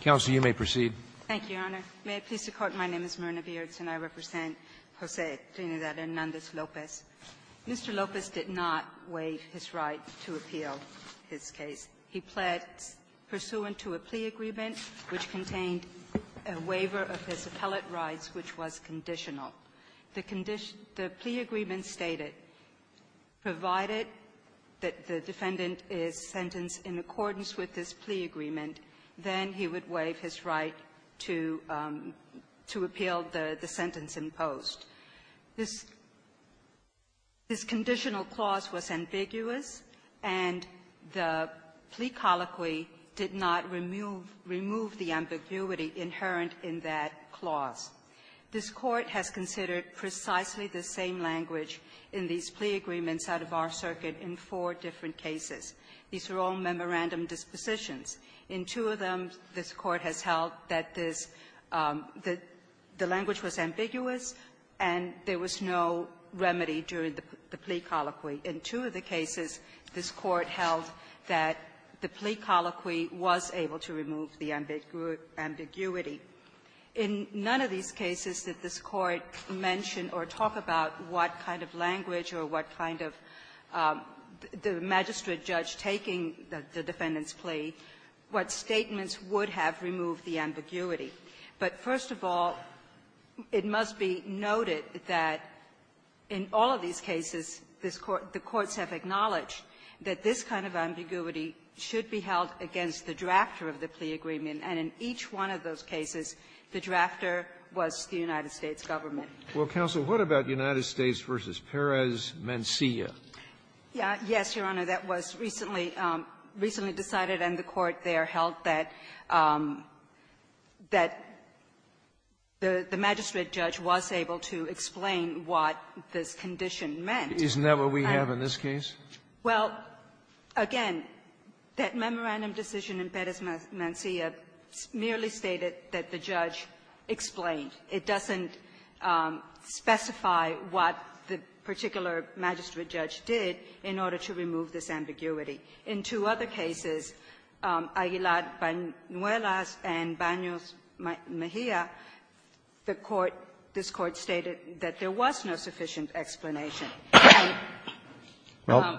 Counsel, you may proceed. Thank you, Your Honor. May it please the Court, my name is Myrna Beards and I represent Jose Trinidad Hernandez-Lopez. Mr. Lopez did not waive his right to appeal his case. He pled pursuant to a plea agreement which contained a waiver of his appellate rights, which was conditional. The plea agreement stated, provided that the defendant is sentenced in accordance with this plea agreement, then he would waive his right to appeal the sentence in post. This conditional clause was ambiguous, and the plea colloquy did not remove the ambiguity inherent in that clause. This Court has considered precisely the same language in these plea agreements out of our circuit in four different cases. These are all memorandum dispositions. In two of them, this Court has held that this the language was ambiguous and there was no remedy during the plea colloquy. In two of the cases, this Court held that the plea colloquy was able to remove the ambiguity. In none of these cases did this Court mention or talk about what kind of language or what kind of the magistrate judge taking the defendant's plea, what statements would have removed the ambiguity. But first of all, it must be noted that in all of these cases, this Court the courts have acknowledged that this kind of ambiguity should be held against the drafter of the plea agreement, and in each one of those cases, the drafter was the United States government. Sotomayor, what about United States v. Perez-Mencia? Yes, Your Honor. That was recently decided, and the Court there held that the magistrate judge was able to explain what this condition meant. Isn't that what we have in this case? Well, again, that memorandum decision in Perez-Mencia merely stated that the judge explained. It doesn't specify what the particular magistrate judge did in order to remove this ambiguity. In two other cases, Aguilar-Banuelas and Banos-Mejia, the Court, this Court stated that there was no sufficient explanation. Well,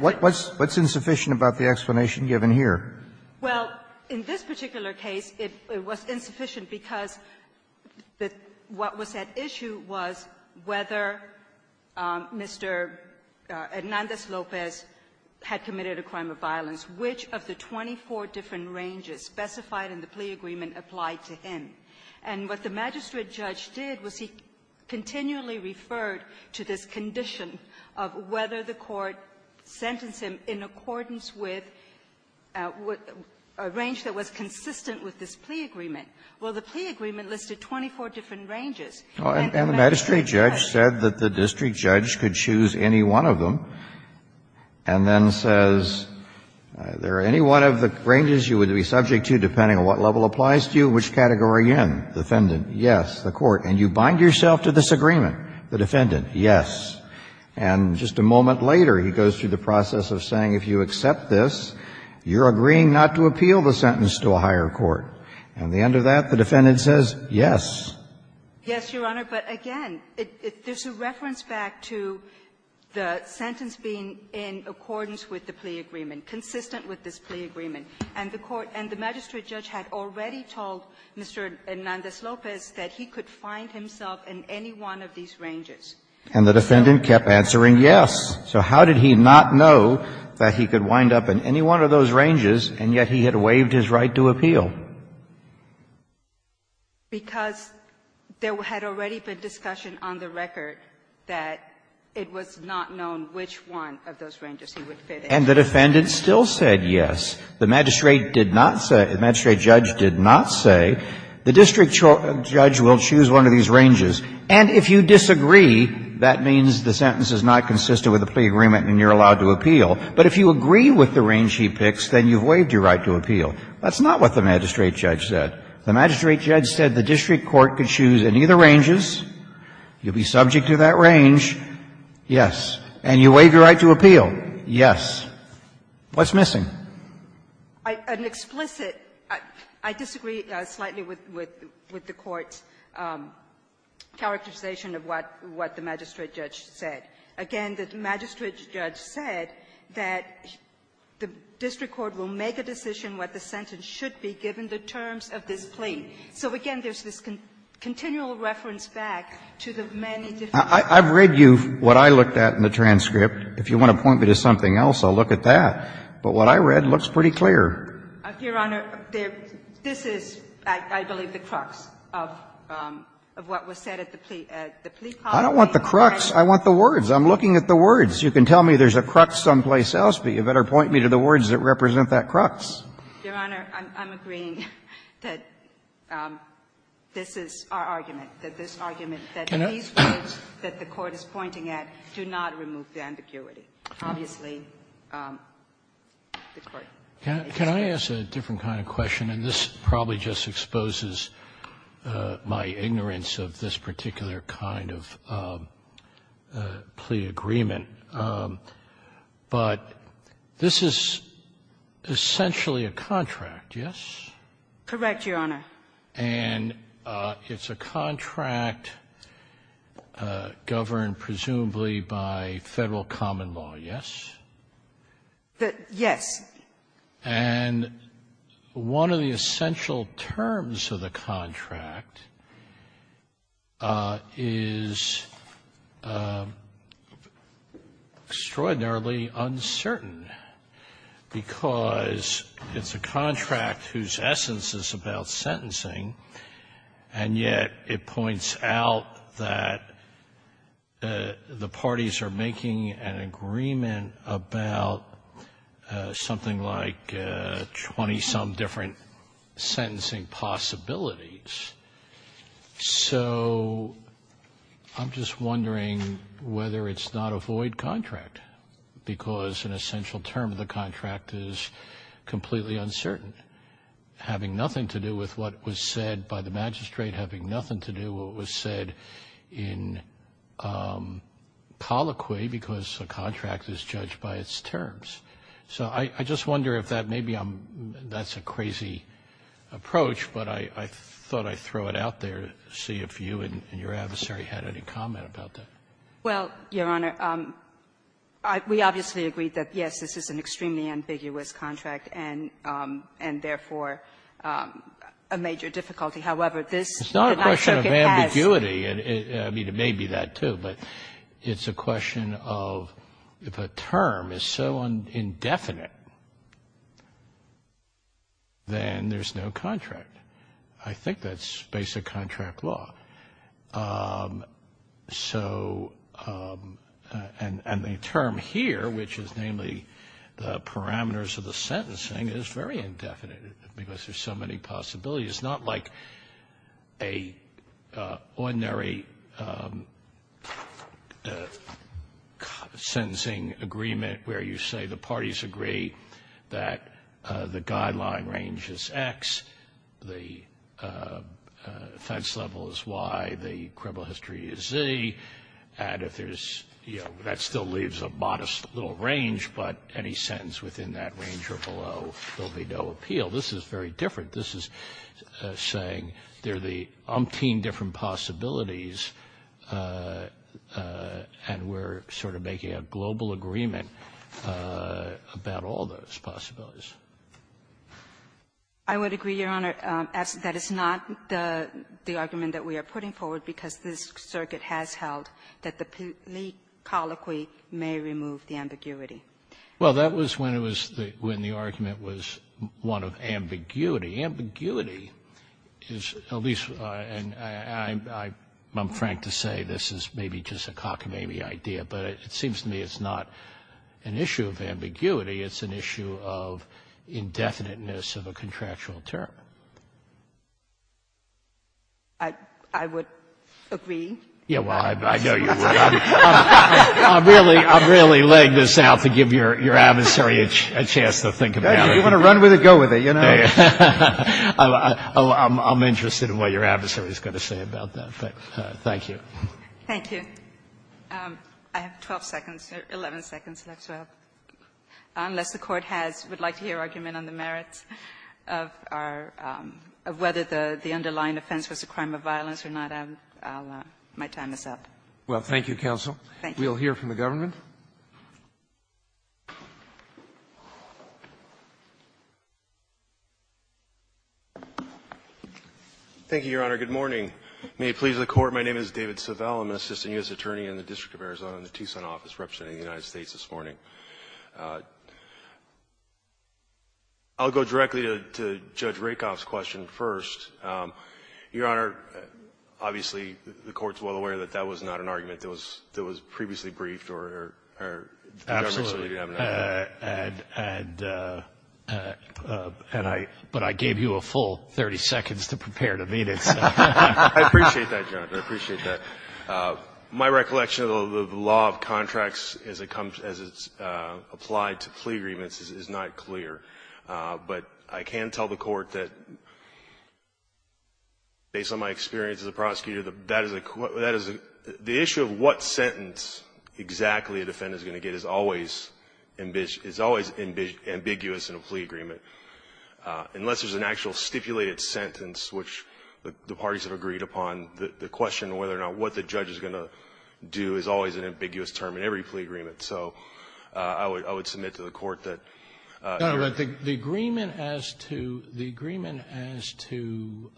what's insufficient about the explanation given here? Well, in this particular case, it was insufficient because what was at issue was whether Mr. Hernandez-Lopez had committed a crime of violence, which of the 24 different ranges specified in the plea agreement applied to him. And what the magistrate judge did was he continually referred to this condition of whether the court sentenced him in accordance with a range that was consistent with this plea agreement. Well, the plea agreement listed 24 different ranges. And the magistrate judge said that the district judge could choose any one of them and then says, is there any one of the ranges you would be subject to depending on what level applies to you, which category you're in? Defendant, yes. The Court, and you bind yourself to this agreement. The defendant, yes. And just a moment later, he goes through the process of saying, if you accept this, you're agreeing not to appeal the sentence to a higher court. At the end of that, the defendant says, yes. Yes, Your Honor, but again, there's a reference back to the sentence being in accordance with the plea agreement, consistent with this plea agreement. And the court and the magistrate judge had already told Mr. Hernandez-Lopez that he could find himself in any one of these ranges. And the defendant kept answering yes. So how did he not know that he could wind up in any one of those ranges, and yet he had waived his right to appeal? Because there had already been discussion on the record that it was not known which one of those ranges he would fit in. And the defendant still said yes. The magistrate did not say the magistrate judge did not say the district judge will choose one of these ranges. And if you disagree, that means the sentence is not consistent with the plea agreement and you're allowed to appeal. But if you agree with the range he picks, then you've waived your right to appeal. That's not what the magistrate judge said. The magistrate judge said the district court could choose any of the ranges, you'll be subject to that range, yes, and you waived your right to appeal, yes. What's missing? I disagree slightly with the Court's characterization of what the magistrate judge said. Again, the magistrate judge said that the district court will make a decision what the sentence should be given the terms of this plea. So again, there's this continual reference back to the many different. I've read you what I looked at in the transcript. If you want to point me to something else, I'll look at that. But what I read looks pretty clear. Your Honor, this is, I believe, the crux of what was said at the plea. I don't want the crux, I want the words. I'm looking at the words. You can tell me there's a crux someplace else, but you better point me to the words that represent that crux. Your Honor, I'm agreeing that this is our argument, that this argument, that these words that the Court is pointing at do not remove the ambiguity. Obviously, the Court is disagreeing. Sotomayor, can I ask a different kind of question? And this probably just exposes my ignorance of this particular kind of plea agreement. But this is essentially a contract, yes? Correct, Your Honor. And it's a contract governed presumably by Federal common law, yes? Yes. And one of the essential terms of the contract is extraordinarily uncertain, because it's a contract whose essence is about sentencing, and yet it points out that the parties are making an agreement about something like 20-some different sentencing possibilities. So, I'm just wondering whether it's not a void contract, because an essential term of the contract is completely uncertain, having nothing to do with what was said by the magistrate, having nothing to do with what was said in colloquy, because a contract is judged by its terms. So I just wonder if that maybe I'm — that's a crazy approach, but I thought I'd throw it out there to see if you and your adversary had any comment about that. Well, Your Honor, we obviously agreed that, yes, this is an extremely ambiguous contract and, therefore, a major difficulty. However, this did not show that it has to be a void contract. It's not a question of ambiguity. I mean, it may be that, too, but it's a question of if a term is so indefinite, then there's no contract. I think that's basic contract law. So — and the term here, which is namely the parameters of the sentencing, is very indefinite, because there's so many possibilities. It's not like a ordinary sentencing agreement where you say the parties agree that the guideline range is X, the offense level is Y, the criminal history is Z, and if there's — you know, that still leaves a modest little range, but any sentence within that range or below, there'll be no appeal. This is very different. This is saying there are the umpteen different possibilities, and we're sort of making a global agreement about all those possibilities. I would agree, Your Honor, that is not the argument that we are putting forward, because this circuit has held that the plea colloquy may remove the ambiguity. Well, that was when it was — when the argument was one of ambiguity. Ambiguity is at least — and I'm frank to say this is maybe just a cockamamie idea, but it seems to me it's not an issue of ambiguity. It's an issue of indefiniteness of a contractual term. I would agree. Yeah, well, I know you would. I'm really laying this out to give your adversary a chance to think about it. If you want to run with it, go with it, you know. I'm interested in what your adversary is going to say about that. Thank you. Thank you. I have 12 seconds, or 11 seconds left, so unless the Court has — would like to hear argument on the merits of our — of whether the underlying offense was a crime of violence or not, I'll — my time is up. Well, thank you, counsel. Thank you. We'll hear from the government. Thank you, Your Honor. Good morning. May it please the Court. My name is David Savelle. I'm an assistant U.S. attorney in the District of Arizona in the Tucson office representing the United States this morning. I'll go directly to Judge Rakoff's question first. Your Honor, obviously, the Court's well aware that that was not an argument that was — that was previously briefed, or the government certainly didn't have an argument. Absolutely. And — and I — but I gave you a full 30 seconds to prepare to meet it, so — I appreciate that, Jonathan. I appreciate that. My recollection of the law of contracts as it comes — as it's applied to plea agreements is not clear. But I can tell the Court that, based on my experience as a prosecutor, that is a — that is a — the issue of what sentence exactly a defendant is going to get is always — is always ambiguous in a plea agreement, unless there's an actual stipulated sentence, which the parties have agreed upon, the question of whether or not — what the judge is going to do is always an ambiguous term in every plea agreement. So I would — I would submit to the Court that — Your Honor, the agreement as to — the agreement as to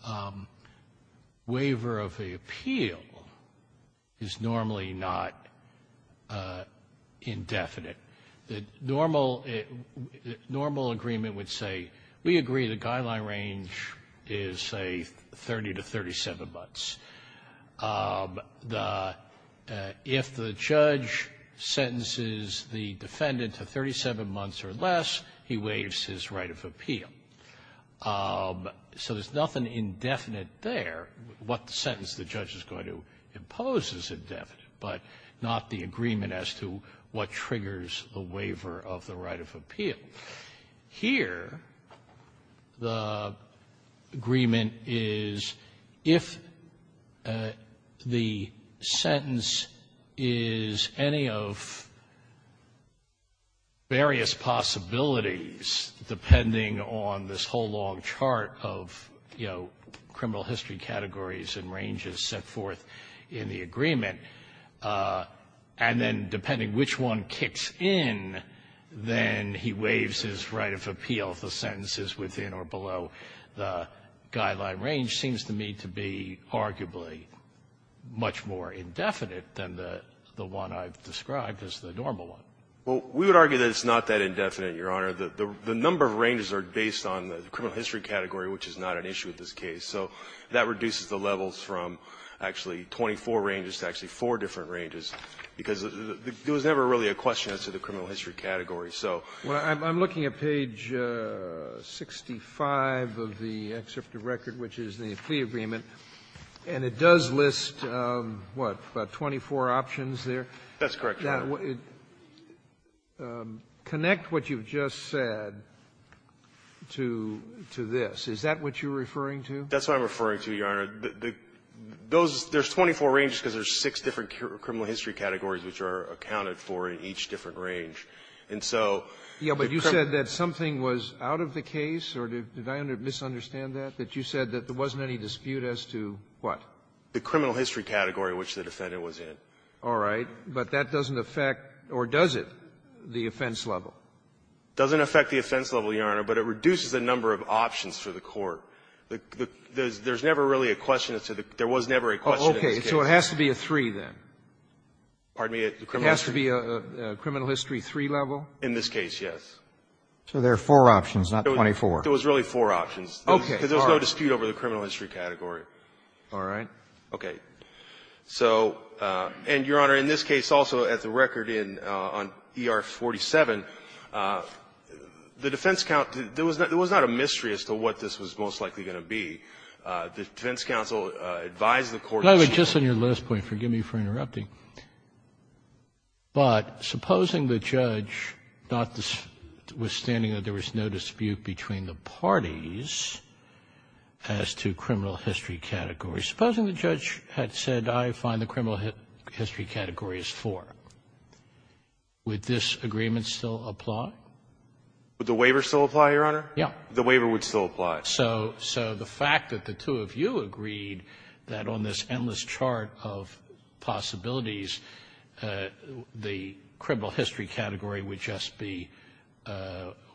waiver of the appeal is normally not indefinite. The normal — normal agreement would say, we agree the guideline range is, say, 30 to 37 months. The — if the judge sentences the defendant to 37 months or less, he waives his right of appeal. So there's nothing indefinite there, what sentence the judge is going to impose is indefinite, but not the agreement as to what triggers the waiver of the right of appeal. Here, the agreement is, if the sentence is any of various possibilities, depending on this whole long chart of, you know, criminal history categories and ranges set forth in the agreement, and then depending which one kicks in, then he waives his right of appeal if the sentence is within or below the guideline range, seems to me to be arguably much more indefinite than the one I've described as the normal one. Well, we would argue that it's not that indefinite, Your Honor. The number of ranges are based on the criminal history category, which is not an issue in this case. So that reduces the levels from actually 24 ranges to actually four different ranges, because there was never really a question as to the criminal history category. So the question is, does that make sense? Sotomayor, I'm looking at page 65 of the excerpt of record, which is the plea agreement, and it does list, what, 24 options there? That's correct, Your Honor. Connect what you've just said to this. Is that what you're referring to? That's what I'm referring to, Your Honor. The – those – there's 24 ranges because there's six different criminal history categories which are accounted for in each different range. And so the criminal… Yeah, but you said that something was out of the case, or did I misunderstand that, that you said that there wasn't any dispute as to what? The criminal history category, which the defendant was in. All right. But that doesn't affect, or does it, the offense level? It doesn't affect the offense level, Your Honor, but it reduces the number of options for the court. There's never really a question as to the – there was never a question in this case. Okay. So it has to be a three, then. Pardon me? It has to be a criminal history three level? In this case, yes. So there are four options, not 24. There was really four options. Okay. Because there's no dispute over the criminal history category. All right. Okay. So – and, Your Honor, in this case also, as a record in – on ER 47, the defense count – there was not a mystery as to what this was most likely going to be. Just on your last point, forgive me for interrupting. But supposing the judge, notwithstanding that there was no dispute between the parties as to criminal history category, supposing the judge had said, I find the criminal history category is four, would this agreement still apply? Would the waiver still apply, Your Honor? Yeah. The waiver would still apply. So the fact that the two of you agreed that on this endless chart of possibilities the criminal history category would just be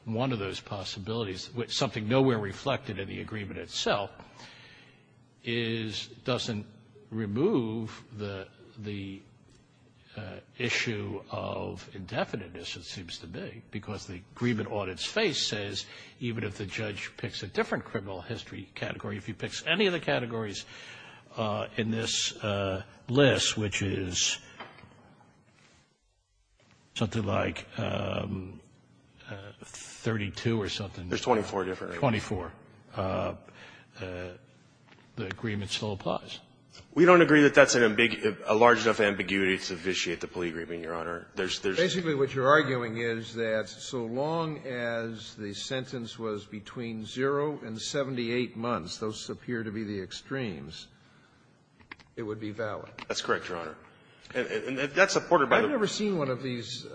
one of those possibilities, something nowhere reflected in the agreement itself, is – doesn't remove the issue of indefiniteness, it seems to me. Because the agreement on its face says even if the judge picks a different criminal history category, if he picks any of the categories in this list, which is something like 32 or something. There's 24 different. Twenty-four. The agreement still applies. We don't agree that that's a large enough ambiguity to vitiate the plea agreement, Your Honor. There's – Basically, what you're arguing is that so long as the sentence was between 0 and 78 months, those appear to be the extremes, it would be valid. That's correct, Your Honor. And that's supported by the ---- I've never seen one of these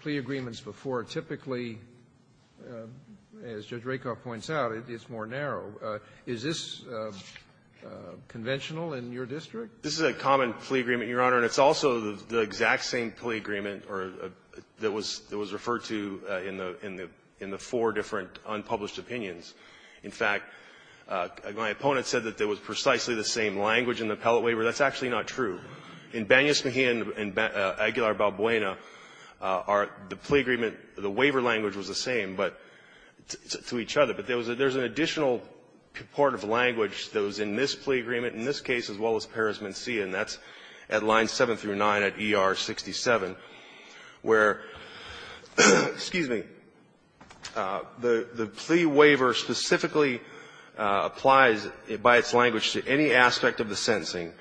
plea agreements before. Typically, as Judge Rakoff points out, it's more narrow. Is this conventional in your district? This is a common plea agreement, Your Honor, and it's also the exact same plea agreement that was referred to in the four different unpublished opinions. In fact, my opponent said that there was precisely the same language in the appellate waiver. That's actually not true. In Bania-Smihian and Aguilar-Balbuena, the plea agreement, the waiver language was the same, but to each other. But there was an additional part of language that was in this plea agreement, in this case, as well as Paris-Mencia, and that's at lines 7 through 9 at ER67. Where, excuse me, the plea waiver specifically applies by its language to any aspect of the sentencing.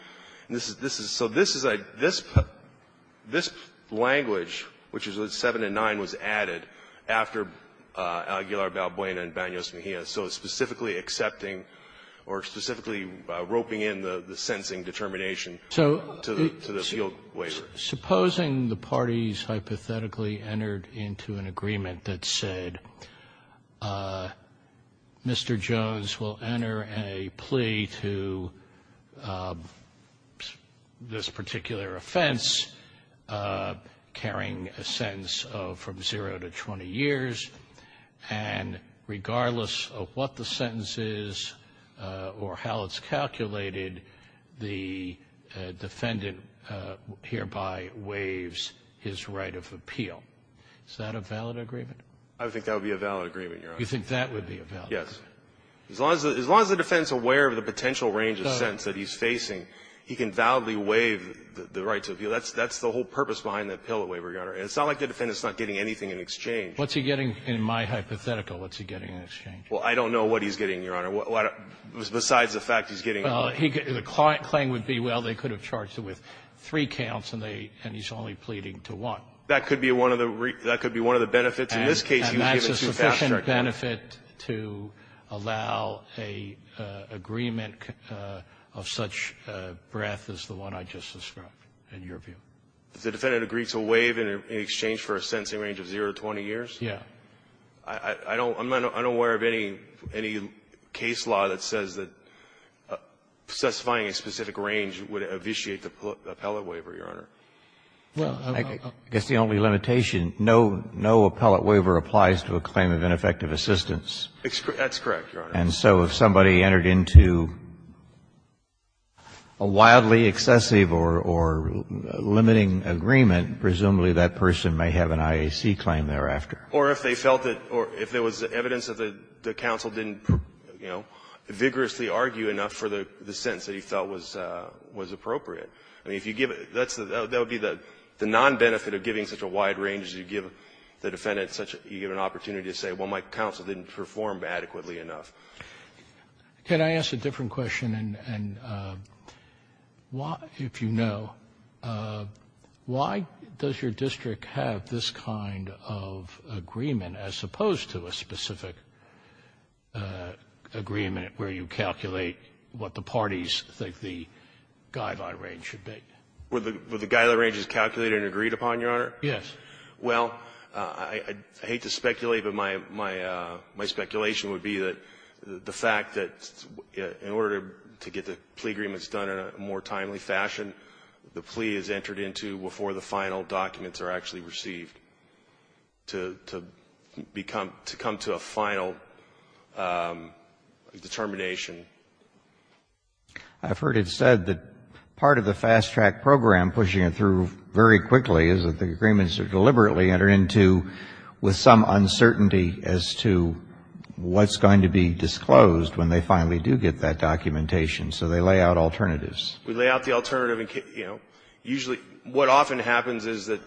This is so this is a ---- this language, which is at 7 and 9, was added after Aguilar-Balbuena and Bania-Smihian. So it's specifically accepting or specifically roping in the sentencing determination to the field waiver. Supposing the parties hypothetically entered into an agreement that said Mr. Jones will enter a plea to this particular offense, carrying a sentence of from 0 to 20 years, and regardless of what the sentence is or how it's calculated, the defendant hereby waives his right of appeal. Is that a valid agreement? I think that would be a valid agreement, Your Honor. You think that would be a valid agreement? Yes. As long as the defendant is aware of the potential range of sentence that he's facing, he can validly waive the right to appeal. That's the whole purpose behind the appellate waiver. It's not like the defendant is not getting anything in exchange. What's he getting in my hypothetical? What's he getting in exchange? Well, I don't know what he's getting, Your Honor, besides the fact he's getting a lot. Well, the claim would be, well, they could have charged him with three counts, and he's only pleading to one. That could be one of the benefits. In this case, he was given two counts. And that's a sufficient benefit to allow an agreement of such breadth as the one I just described, in your view. If the defendant agreed to waive in exchange for a sentencing range of 0 to 20 years? Yes. I'm not unaware of any case law that says that specifying a specific range would vitiate the appellate waiver, Your Honor. I guess the only limitation, no appellate waiver applies to a claim of ineffective assistance. That's correct, Your Honor. And so if somebody entered into a wildly excessive or limiting agreement, presumably that person may have an IAC claim thereafter. Or if they felt that or if there was evidence that the counsel didn't, you know, vigorously argue enough for the sentence that he felt was appropriate. I mean, if you give it, that would be the nonbenefit of giving such a wide range is you give the defendant such a, you give an opportunity to say, well, my counsel didn't perform adequately enough. Can I ask a different question? And why, if you know, why does your district have this kind of agreement as opposed to a specific agreement where you calculate what the parties think the guideline range should be? Would the guideline range be calculated and agreed upon, Your Honor? Yes. Well, I hate to speculate, but my speculation would be that the fact that in order to get the plea agreements done in a more timely fashion, the plea is entered into before the final documents are actually received to become, to come to a final determination. I've heard it said that part of the fast-track program pushing it through very quickly is that the agreements are deliberately entered into with some uncertainty as to what's going to be disclosed when they finally do get that documentation. So they lay out alternatives. We lay out the alternative and, you know, usually what often happens is that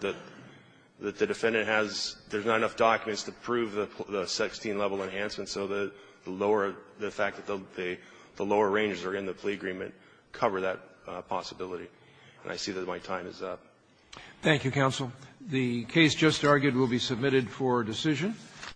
the defendant has, there's not enough documents to prove the 16-level enhancement, so the lower the fact that the lower ranges are in the plea agreement cover that possibility. And I see that my time is up. Thank you, counsel. The case just argued will be submitted for decision.